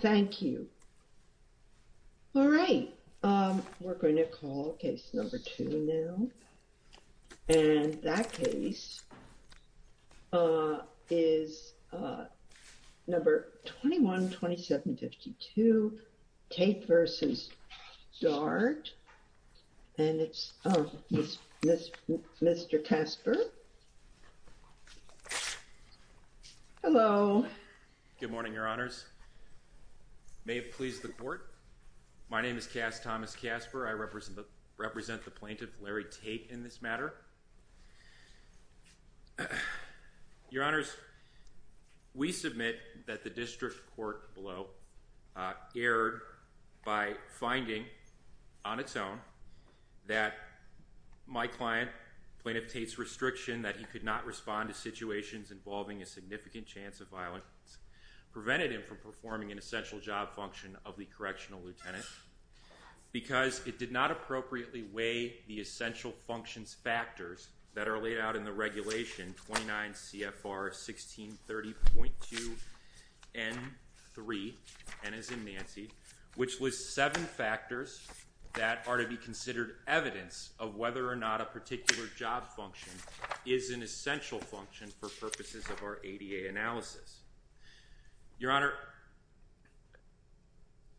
Thank you. All right, we're going to call case number two now. And that case is number 21-2752, Tate v. Dart. And it's Mr. Casper. Good morning, Your Honors. May it please the court. My name is Cass Thomas Casper. I represent the plaintiff, Larry Tate, in this matter. Your Honors, we submit that the district court below erred by finding, on its own, that my client, Plaintiff Tate's restriction that he could not respond to situations involving a significant chance of violence prevented him from performing an essential job function of the correctional lieutenant because it did not appropriately weigh the essential functions factors that are laid out in the as in Nancy, which lists seven factors that are to be considered evidence of whether or not a particular job function is an essential function for purposes of our ADA analysis. Your Honor,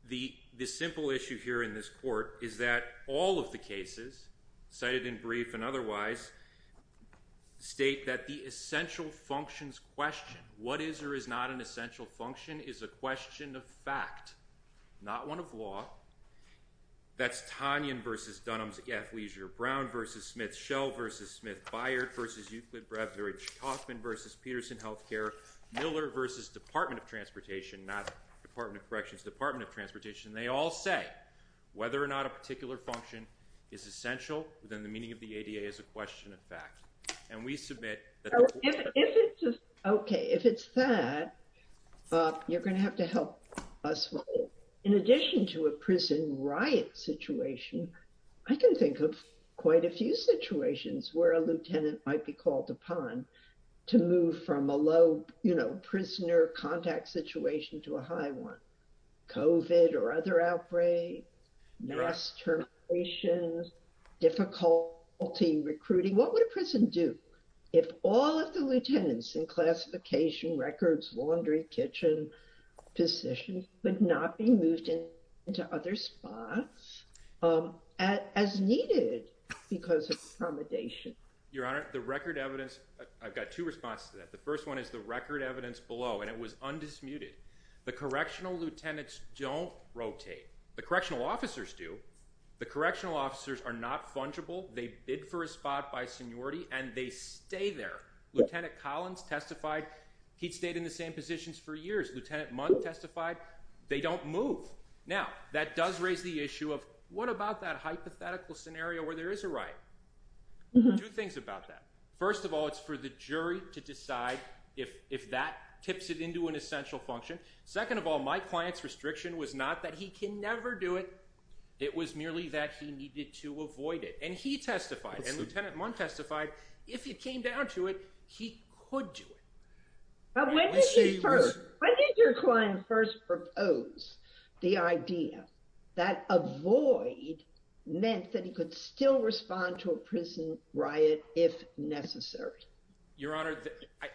the simple issue here in this court is that all of the cases, cited in brief and otherwise, state that the essential functions question, what is or is not an essential function, is a question of fact, not one of law. That's Tanyan v. Dunham's athleisure, Brown v. Smith, Schell v. Smith, Byard v. Euclid, Brevridge, Kaufman v. Peterson Healthcare, Miller v. Department of Transportation, not Department of Corrections, Department of Transportation. They all say whether or not a particular function is essential within the meaning of the ADA is a question of fact, and we submit that the question of fact is not an essential function. Okay, if it's that, you're going to have to help us with it. In addition to a prison riot situation, I can think of quite a few situations where a lieutenant might be called upon to move from a low, you know, prisoner contact situation to a high one. COVID or other outbreak, mass terminations, difficulty recruiting. What would a prison do if all of the lieutenants in classification, records, laundry, kitchen positions would not be moved into other spots as needed because of accommodation? Your Honor, the record evidence, I've got two responses to that. The first one is the record evidence below, and it was undismuted. The correctional lieutenants don't rotate. The correctional officers do. The correctional officers are not fungible. They bid for a spot by seniority, and they stay there. Lieutenant Collins testified he'd stayed in the same positions for years. Lieutenant Mundt testified they don't move. Now, that does raise the issue of what about that hypothetical scenario where there is a riot? Two things about that. First of all, it's for the jury to decide if that tips it into an essential function. Second of all, my client's restriction was not that he can never do it. It was merely that he needed to avoid it. And he testified, and Lieutenant Mundt testified, if it came down to it, he could do it. When did your client first propose the idea that avoid meant that he could still respond to a prison riot if necessary? Your Honor,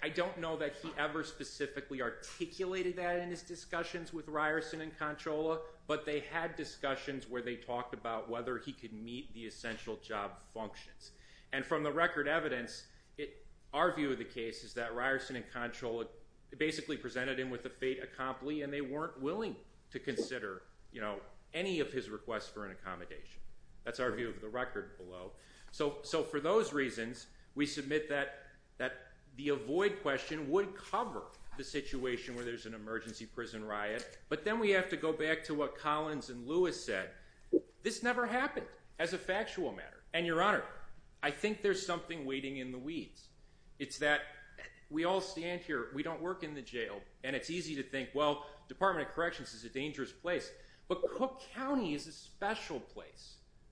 I don't know that he ever specifically articulated that in his discussions with Ryerson and Conchola, but they had discussions where they talked about whether he could meet the essential job functions. And from the record evidence, our view of the case is that Ryerson and Conchola basically presented him with a fait accompli, and they weren't willing to consider any of his requests for an accommodation. That's our view of the record below. So for those reasons, we submit that the avoid question would cover the situation where there's an emergency prison riot. But then we have to go back to what Collins and Lewis said. This never happened as a factual matter. And Your Honor, I think there's something waiting in the weeds. It's that we all stand here, we don't work in the jail, and it's easy to think, well, Department of Corrections is a dangerous place. But Cook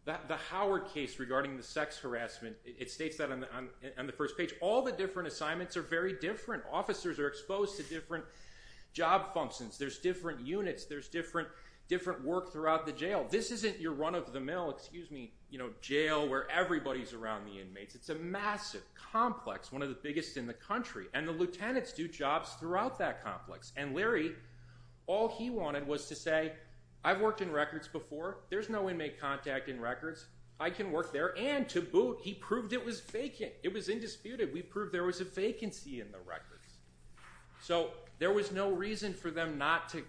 the Howard case regarding the sex harassment, it states that on the first page, all the different assignments are very different. Officers are exposed to different job functions, there's different units, there's different work throughout the jail. This isn't your run of the mill, excuse me, jail where everybody's around the inmates. It's a massive complex, one of the biggest in the country. And the lieutenants do jobs throughout that complex. And Larry, all he wanted was to say, I've worked in records before, there's no inmate contact in records, I can work there. And to boot, he proved it was vacant. It was indisputed. We proved there was a vacancy in the records. So there was no reason for them not to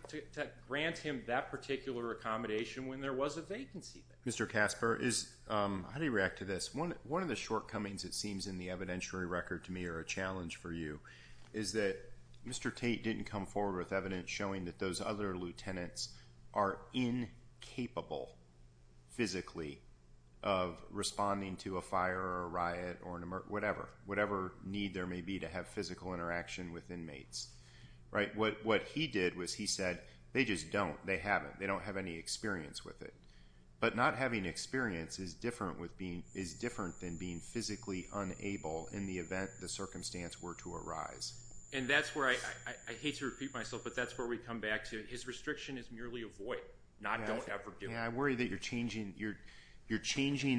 grant him that particular accommodation when there was a vacancy there. Mr. Casper, how do you react to this? One of the shortcomings it seems in the evidentiary record to me or a challenge for you is that Mr. Tate didn't come forward with evidence showing that those other lieutenants are incapable physically of responding to a fire or a riot or whatever need there may be to have physical interaction with inmates. What he did was he said, they just don't, they haven't, they don't have any experience with it. But not having experience is different than being physically unable in the event the circumstance were to arise. And that's where I hate to repeat myself, but that's where we come back to. His restriction is merely avoid, not don't ever do it. Yeah, I worry that you're changing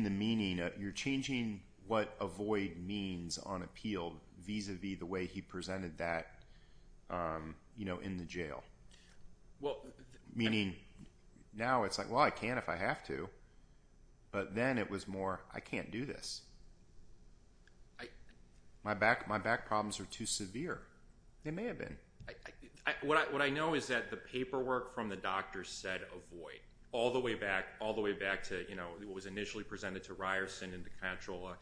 the meaning, you're changing what avoid means on appeal vis-a-vis the way he presented that in the jail. Meaning now it's like, well, I can if I have to. But then it was more, I can't do this. My back problems are too severe. They may have been. What I know is that the paperwork from the doctor said avoid all the way back, all the way back to, you know, it was initially presented to Ryerson and to Controlla.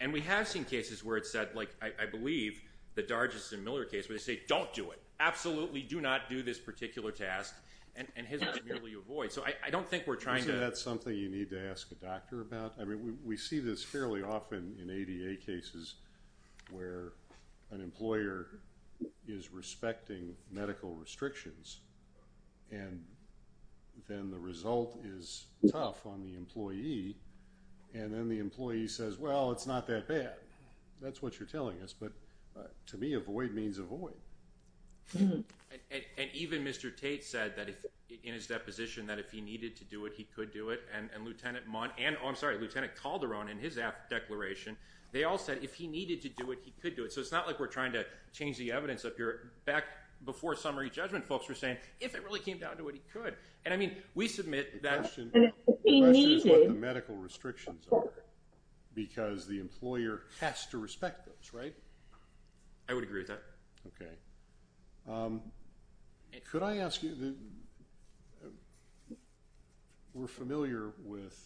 And we have seen cases where it said, like, I believe the Dargeson-Miller case, where they say, don't do it, absolutely do not do this particular task. And his was merely avoid. So I don't think we're trying to- need to ask a doctor about, I mean, we see this fairly often in ADA cases where an employer is respecting medical restrictions. And then the result is tough on the employee. And then the employee says, well, it's not that bad. That's what you're telling us. But to me, avoid means avoid. And even Mr. Tate said that in his deposition that if he needed to do it, he could do it. And Lieutenant Mon- oh, I'm sorry, Lieutenant Calderon in his declaration, they all said if he needed to do it, he could do it. So it's not like we're trying to change the evidence up here. Back before summary judgment, folks were saying, if it really came down to what he could. And I mean, we submit that- The question is what the medical restrictions are. Because the employer has to respect those, right? I would agree with that. Okay. Could I ask you the- we're familiar with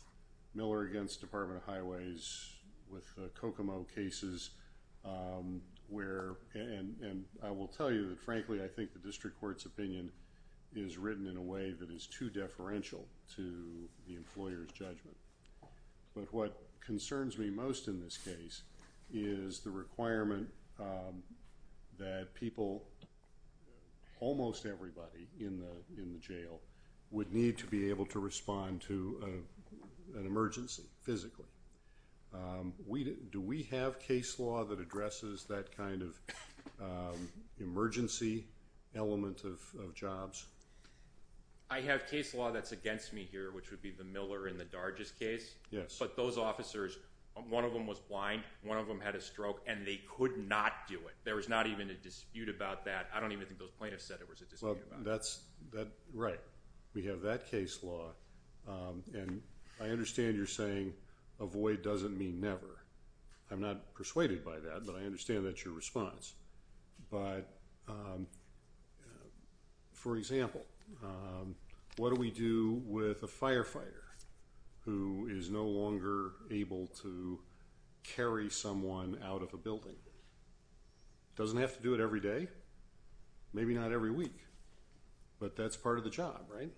Miller against Department of Highways, with the Kokomo cases, where- and I will tell you that, frankly, I think the district court's opinion is written in a way that is too deferential to the employer's judgment. But what concerns me most in this case is the requirement that people, almost everybody in the jail, would need to be able to respond to an emergency physically. Do we have case law that addresses that kind of emergency element of jobs? I have case law that's against me here, which would be the Miller and the Darges case. But those officers, one of them was blind, one of them had a stroke, and they could not do it. There was not even a dispute about that. I don't even think those plaintiffs said there was a dispute about that. Right. We have that case law. And I understand you're saying avoid doesn't mean never. I'm not persuaded by that, but I understand that's your response. But for example, what do we do with a firefighter who is no longer able to carry someone out of a building? Doesn't have to do it every day. Maybe not every week. But that's part of the job, right?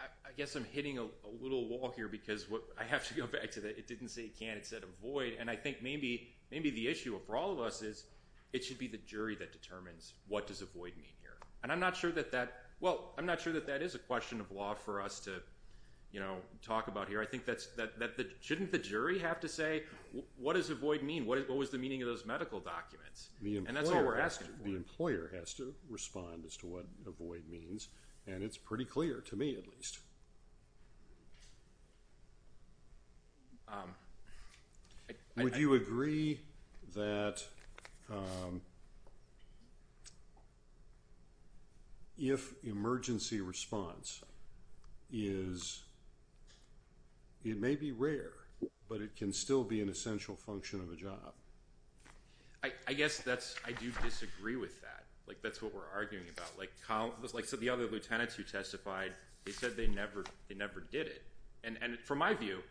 I guess I'm hitting a little wall here because what- I have to go back to that. It didn't say it can't. It said avoid. And I think maybe the issue for all of us is it should be the jury that determines what does avoid mean here. And I'm not sure that that- well, I'm not sure that that is a question of law for us to talk about here. I think that- shouldn't the jury have to say what does avoid mean? What was the meaning of those medical documents? And that's all we're asking for. The employer has to respond as to what avoid means. And it's pretty clear, to me at least. Would you agree that if emergency response is- it may be rare, but it can still be an essential function of a job? I guess that's- I do disagree with that. Like, that's what we're arguing about. Like the other lieutenants who testified, they said they never did it. And from my view,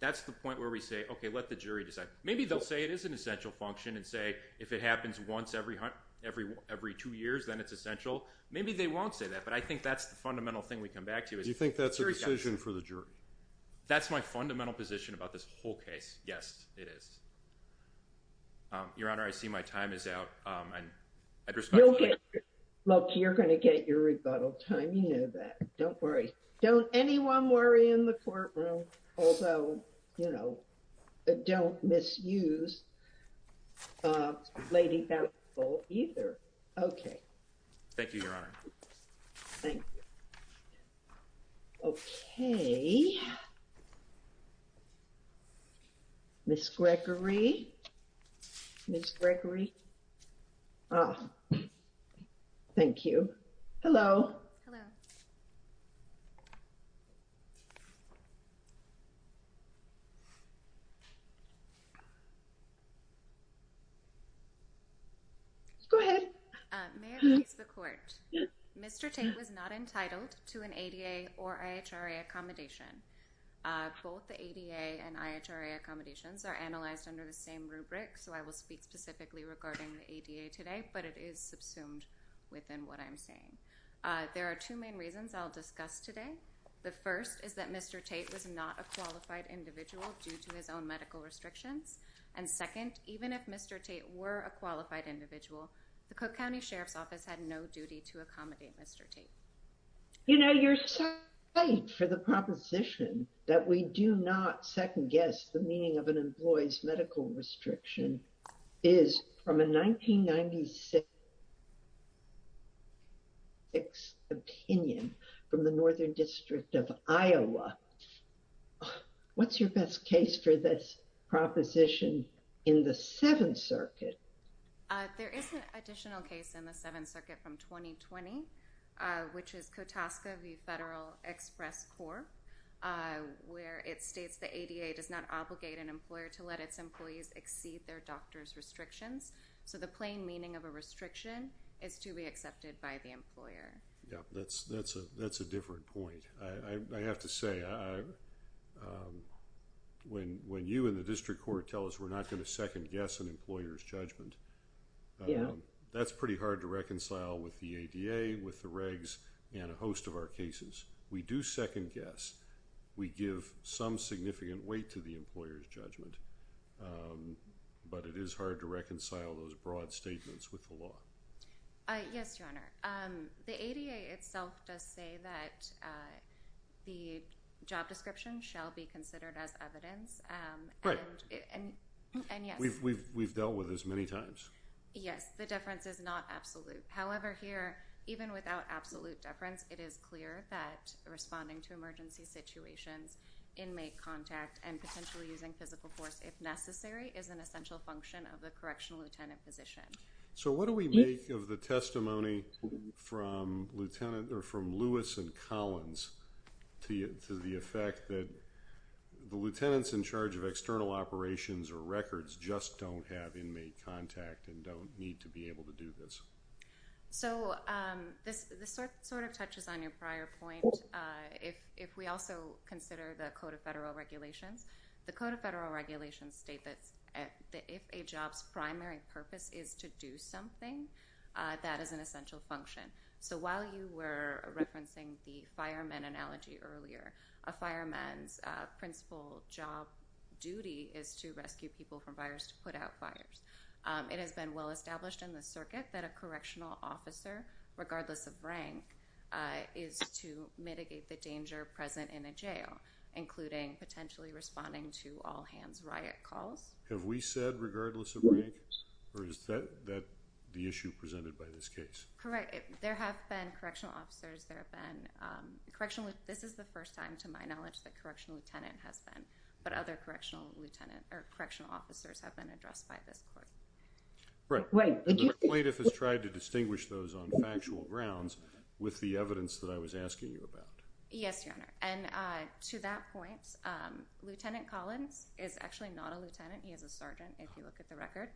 that's the point where we say, okay, let the jury decide. Maybe they'll say it is an essential function and say if it happens once every two years, then it's essential. Maybe they won't say that. But I think that's the fundamental thing we come back to. Do you think that's a decision for the jury? That's my fundamental position about this whole case. Yes, it is. Your Honor, I see my time is out. Look, you're going to get your rebuttal time. You know that. Don't worry. Don't anyone worry in the courtroom. Although, you know, don't misuse Lady Bountiful either. Okay. Thank you, Your Honor. Thank you. Okay. Ms. Gregory. Ms. Gregory. Thank you. Hello. Hello. Go ahead. May I please the court? Mr. Tate was not entitled to an ADA or IHRA accommodation. Both the ADA and IHRA accommodations are analyzed under the same rubric. So I will speak specifically regarding the ADA today, but it is subsumed within what I'm saying. There are two main reasons I'll discuss today. The first is that Mr. Tate was not a qualified individual due to his own medical restrictions. And second, even if Mr. Tate were a qualified individual, the Cook County Sheriff's Office had no duty to accommodate Mr. Tate. You know, your site for the proposition that we do not second guess the meaning of an employee's medical restriction is from a 1996 opinion from the Northern District of Iowa. What's your best case for this proposition in the Seventh Circuit? There is an additional case in the Seventh Circuit from 2020, which is COTASCA v. Federal Express Court, where it states the ADA does not obligate an employer to let its employees exceed their doctor's restrictions. So the plain meaning of a restriction is to be accepted by the employer. Yeah, that's a different point. I have to say, when you and the district court tell us we're not going to second guess an employer's judgment, yeah, that's pretty hard to reconcile with the ADA, with the regs, and a host of our cases. We do second guess. We give some significant weight to the employer's judgment. But it is hard to reconcile those broad statements with the law. Yes, Your Honor. The ADA itself does say that the job description shall be considered as evidence. Right. We've dealt with this many times. Yes, the difference is not absolute. However, here, even without absolute difference, it is clear that responding to emergency situations, inmate contact, and potentially using physical force, if necessary, is an essential function of the correctional lieutenant position. So what do we make of the testimony from Lewis and Collins to the effect that the lieutenants in charge of external operations or records just don't have inmate contact and don't need to be able to do this? So this sort of touches on your prior point. If we also consider the Code of Federal Regulations, the Code of Federal Regulations state that if a job's primary purpose is to do something, that is an essential function. So while you were referencing the fireman analogy earlier, a fireman's principal job duty is to rescue people from fires, to put out fires. It has been well established in the circuit that a correctional officer, regardless of rank, is to mitigate the danger present in a jail, including potentially responding to all-hands this case. Correct. There have been correctional officers. This is the first time, to my knowledge, that correctional lieutenant has been, but other correctional officers have been addressed by this court. Right. The plaintiff has tried to distinguish those on factual grounds with the evidence that I was asking you about. Yes, Your Honor. And to that point, Lieutenant Collins is actually not a lieutenant. He is a sergeant, if you look at the record.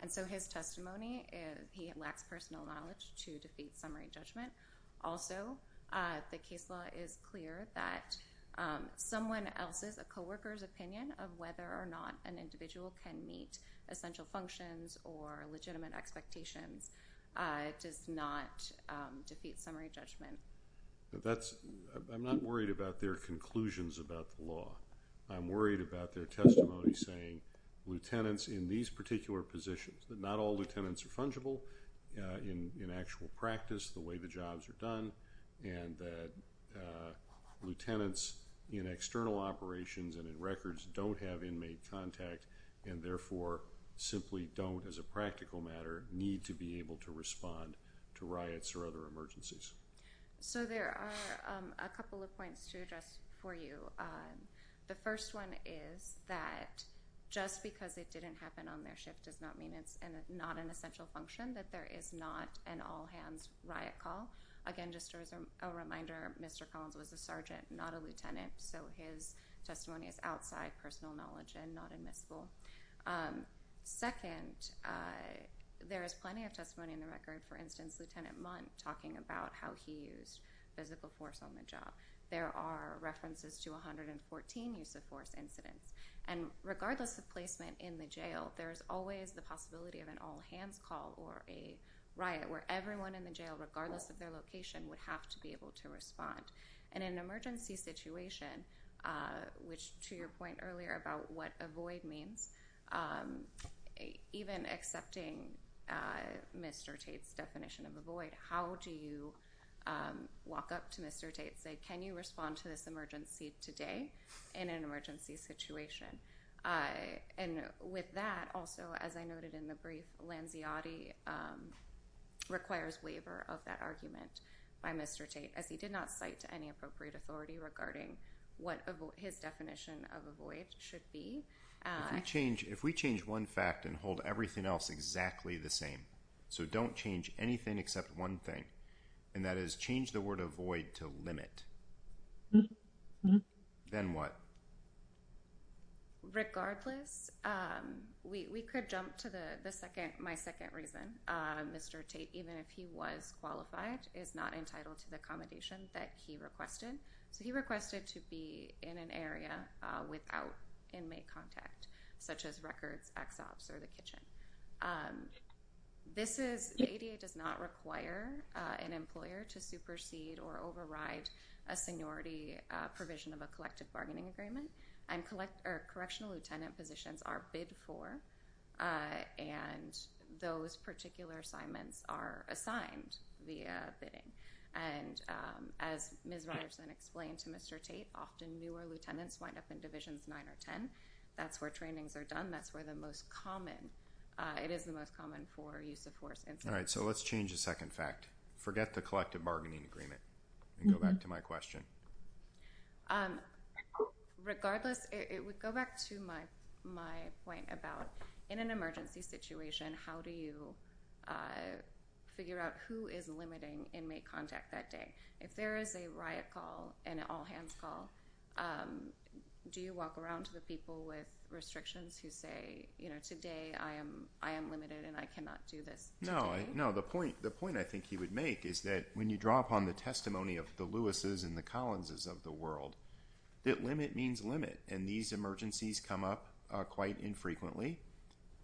And so his testimony, he lacks personal knowledge to defeat summary judgment. Also, the case law is clear that someone else's, a co-worker's opinion of whether or not an individual can meet essential functions or legitimate expectations does not defeat summary judgment. That's, I'm not worried about their conclusions about the law. I'm worried about their testimony saying, lieutenants in these particular positions, that not all lieutenants are fungible in actual practice, the way the jobs are done, and that lieutenants in external operations and in records don't have inmate contact and therefore simply don't, as a practical matter, need to be able to respond to riots or other emergencies. So there are a couple of points to address for you. The first one is that just because it didn't happen on their shift does not mean it's not an essential function, that there is not an all-hands riot call. Again, just as a reminder, Mr. Collins was a sergeant, not a lieutenant, so his testimony is outside personal knowledge and not admissible. Second, there is plenty of testimony in the record, for instance, Lieutenant talking about how he used physical force on the job. There are references to 114 use of force incidents. And regardless of placement in the jail, there is always the possibility of an all-hands call or a riot where everyone in the jail, regardless of their location, would have to be able to respond. And in an emergency situation, which to your point earlier about what avoid means, even accepting Mr. Tate's definition of avoid, how do you walk up to Mr. Tate and say, can you respond to this emergency today in an emergency situation? And with that, also, as I noted in the brief, Lanziotti requires waiver of that argument by Mr. Tate, as he did not regarding what his definition of avoid should be. If we change one fact and hold everything else exactly the same, so don't change anything except one thing, and that is change the word avoid to limit, then what? Regardless, we could jump to my second reason. Mr. Tate, even if he was qualified, is not entitled to the accommodation that he requested. So he requested to be in an area without inmate contact, such as records, ex-ops, or the kitchen. This is, the ADA does not require an employer to supersede or override a seniority provision of a collective bargaining agreement. And correctional lieutenant positions are bid for, and those particular assignments are assigned via bidding. And as Ms. Ryerson explained to Mr. Tate, often newer lieutenants wind up in Divisions 9 or 10. That's where trainings are done. That's where the most common, it is the most common for use of force. All right, so let's change the second fact. Forget the collective bargaining agreement and go back to my question. Regardless, it would point about, in an emergency situation, how do you figure out who is limiting inmate contact that day? If there is a riot call, an all-hands call, do you walk around to the people with restrictions who say, you know, today I am limited and I cannot do this today? No, the point I think he would make is that when you draw upon the testimony of the Lewis's and the Collins's of the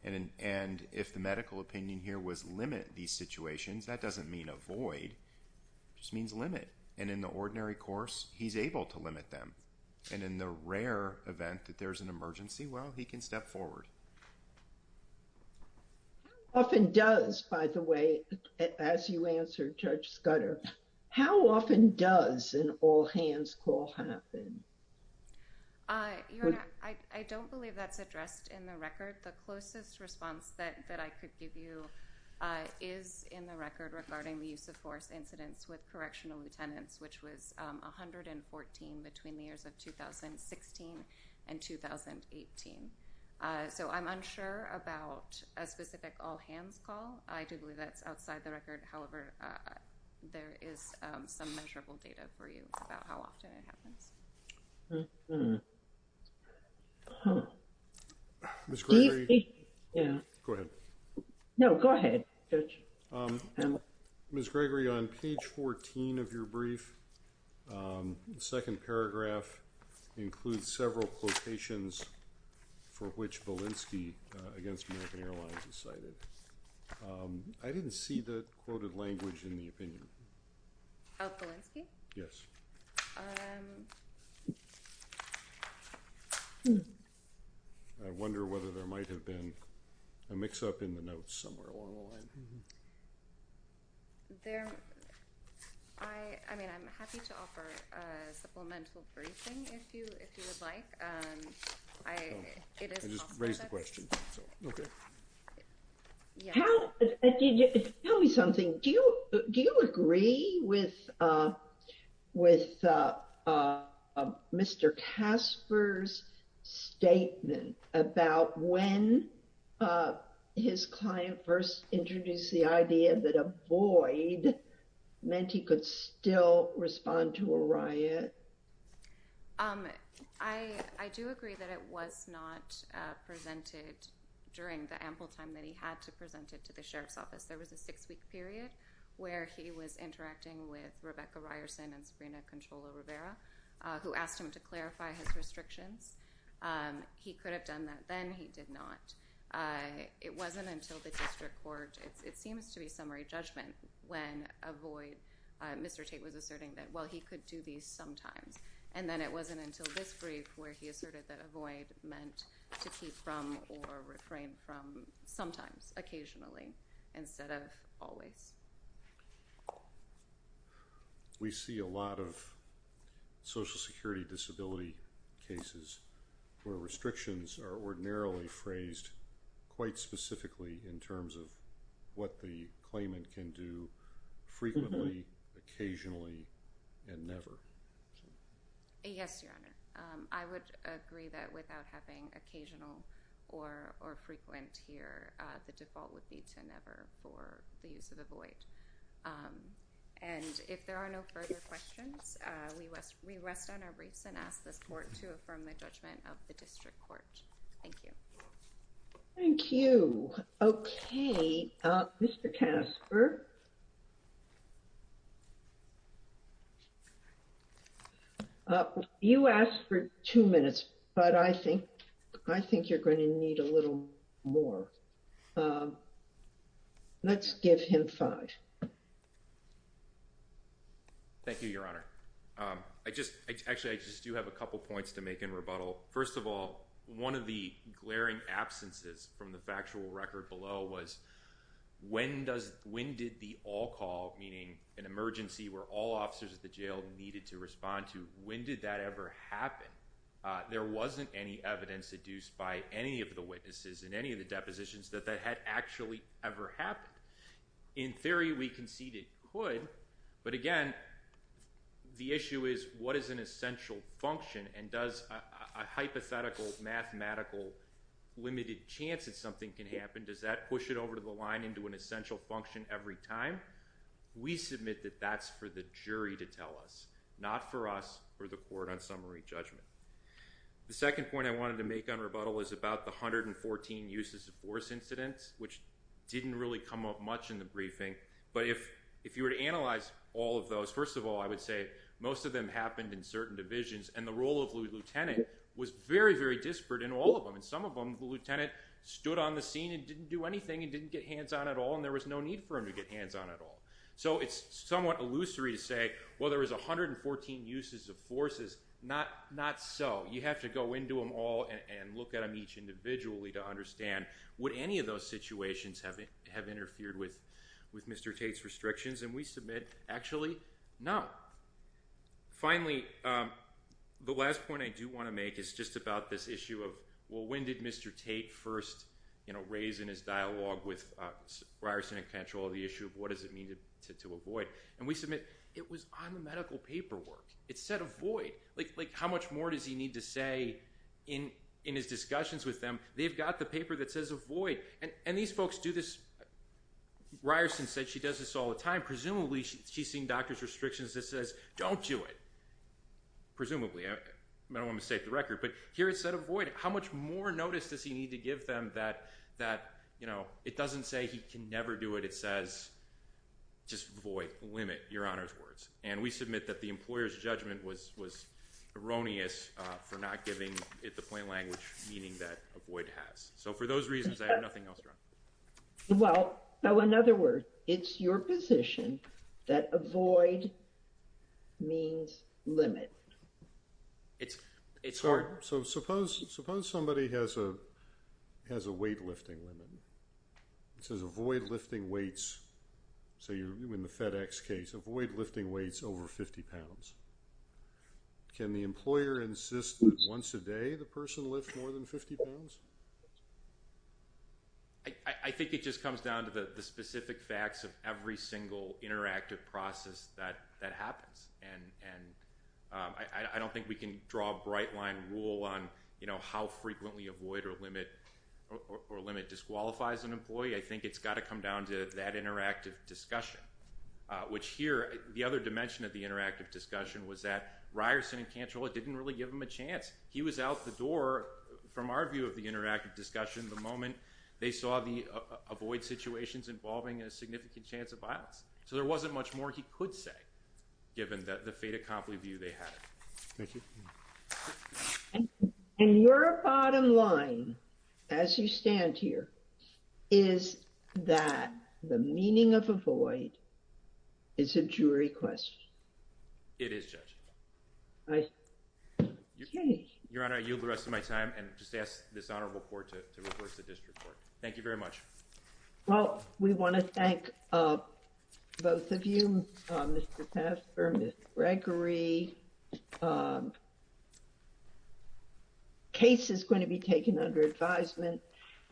and if the medical opinion here was limit these situations, that doesn't mean avoid, just means limit. And in the ordinary course, he's able to limit them. And in the rare event that there's an emergency, well, he can step forward. How often does, by the way, as you answered Judge Scudder, how often does an all-hands call happen? Your Honor, I don't believe that's addressed in the record. The closest response that I could give you is in the record regarding the use of force incidents with correctional lieutenants, which was 114 between the years of 2016 and 2018. So I'm unsure about a specific all-hands call. I do believe that's outside the record. However, there is some measurable data for you about how often it happens. Ms. Gregory. Go ahead. No, go ahead, Judge. Ms. Gregory, on page 14 of your brief, the second paragraph includes several quotations for which Belinsky against American Airlines is cited. I didn't see the quoted language in the opinion. Oh, Belinsky? Yes. I wonder whether there might have been a mix-up in the notes somewhere along the line. I mean, I'm happy to offer a supplemental briefing if you would like. I just raised the question. Okay. Tell me something. Do you agree with Mr. Casper's statement about when his client first introduced the idea that a void meant he could still respond to a riot? I do agree that it was not presented during the ample time that he had to present it to the Sheriff's Office. There was a six-week period where he was interacting with Rebecca Ryerson and Sabrina Controlo-Rivera, who asked him to clarify his restrictions. He could have done that then. He did not. It wasn't until the district court, it seems to be sometimes, and then it wasn't until this brief where he asserted that a void meant to keep from or refrain from sometimes, occasionally, instead of always. We see a lot of Social Security disability cases where restrictions are ordinarily phrased quite specifically in terms of what the claimant can do frequently, occasionally, and never. Okay. Yes, Your Honor. I would agree that without having occasional or frequent here, the default would be to never for the use of a void. And if there are no further questions, we rest on our briefs and ask this court to affirm the judgment of the district court. Thank you. Thank you. Okay. Mr. Casper? You asked for two minutes, but I think you're going to need a little more. Let's give him five. Thank you, Your Honor. Actually, I just do have a couple points to make in rebuttal. First of all, one of the glaring absences from the factual record below was when did the all-call, meaning an emergency where all officers at the jail needed to respond to, when did that ever happen? There wasn't any evidence deduced by any of the witnesses in any of the depositions that that had actually ever happened. In theory, we concede it could, but again, the issue is what is an essential function and does a hypothetical mathematical limited chance that something can we submit that that's for the jury to tell us, not for us or the court on summary judgment. The second point I wanted to make on rebuttal is about the 114 uses of force incidents, which didn't really come up much in the briefing. But if you were to analyze all of those, first of all, I would say most of them happened in certain divisions and the role of the lieutenant was very, very disparate in all of them. And some of them, the lieutenant stood on the scene and didn't do anything and didn't get hands on at all. And there was no need for him to get hands on at all. It's somewhat illusory to say, well, there was 114 uses of forces. Not so. You have to go into them all and look at them each individually to understand would any of those situations have interfered with Mr. Tate's restrictions? And we submit, actually, no. Finally, the last point I do want to make is just about this issue of, well, when did Mr. Tate first raise in his dialogue with to avoid? And we submit it was on the medical paperwork. It said avoid. How much more does he need to say in his discussions with them? They've got the paper that says avoid. And these folks do this. Ryerson said she does this all the time. Presumably, she's seen doctor's restrictions that says don't do it. Presumably. I don't want to mistake the record. But here it said avoid. How much more notice does he need to give them that it doesn't say he can never do it? It says, just avoid, limit, your honor's words. And we submit that the employer's judgment was erroneous for not giving it the plain language meaning that avoid has. So for those reasons, I have nothing else to run. Well, so in other words, it's your position that avoid means limit. It's hard. So suppose somebody has a weightlifting limit. It says avoid lifting weights. So in the FedEx case, avoid lifting weights over 50 pounds. Can the employer insist that once a day, the person lift more than 50 pounds? I think it just comes down to the specific facts of every single interactive process that happens. And I don't think we can draw a bright line rule on how frequently avoid or limit disqualifies an employee. I think it's got to come down to that interactive discussion, which here, the other dimension of the interactive discussion was that Ryerson and Cantrell didn't really give him a chance. He was out the door from our view of the interactive discussion the moment they saw the avoid situations involving a significant chance of violence. So there wasn't much more he could say, given that the fait accompli view they had. And your bottom line, as you stand here, is that the meaning of avoid is a jury question. It is, Judge. Your Honor, I yield the rest of my time and just ask this Honorable Court to request a district court. Thank you very much. Well, we want to thank both of you, Mr. Taffer, Gregory. The case is going to be taken under advisement.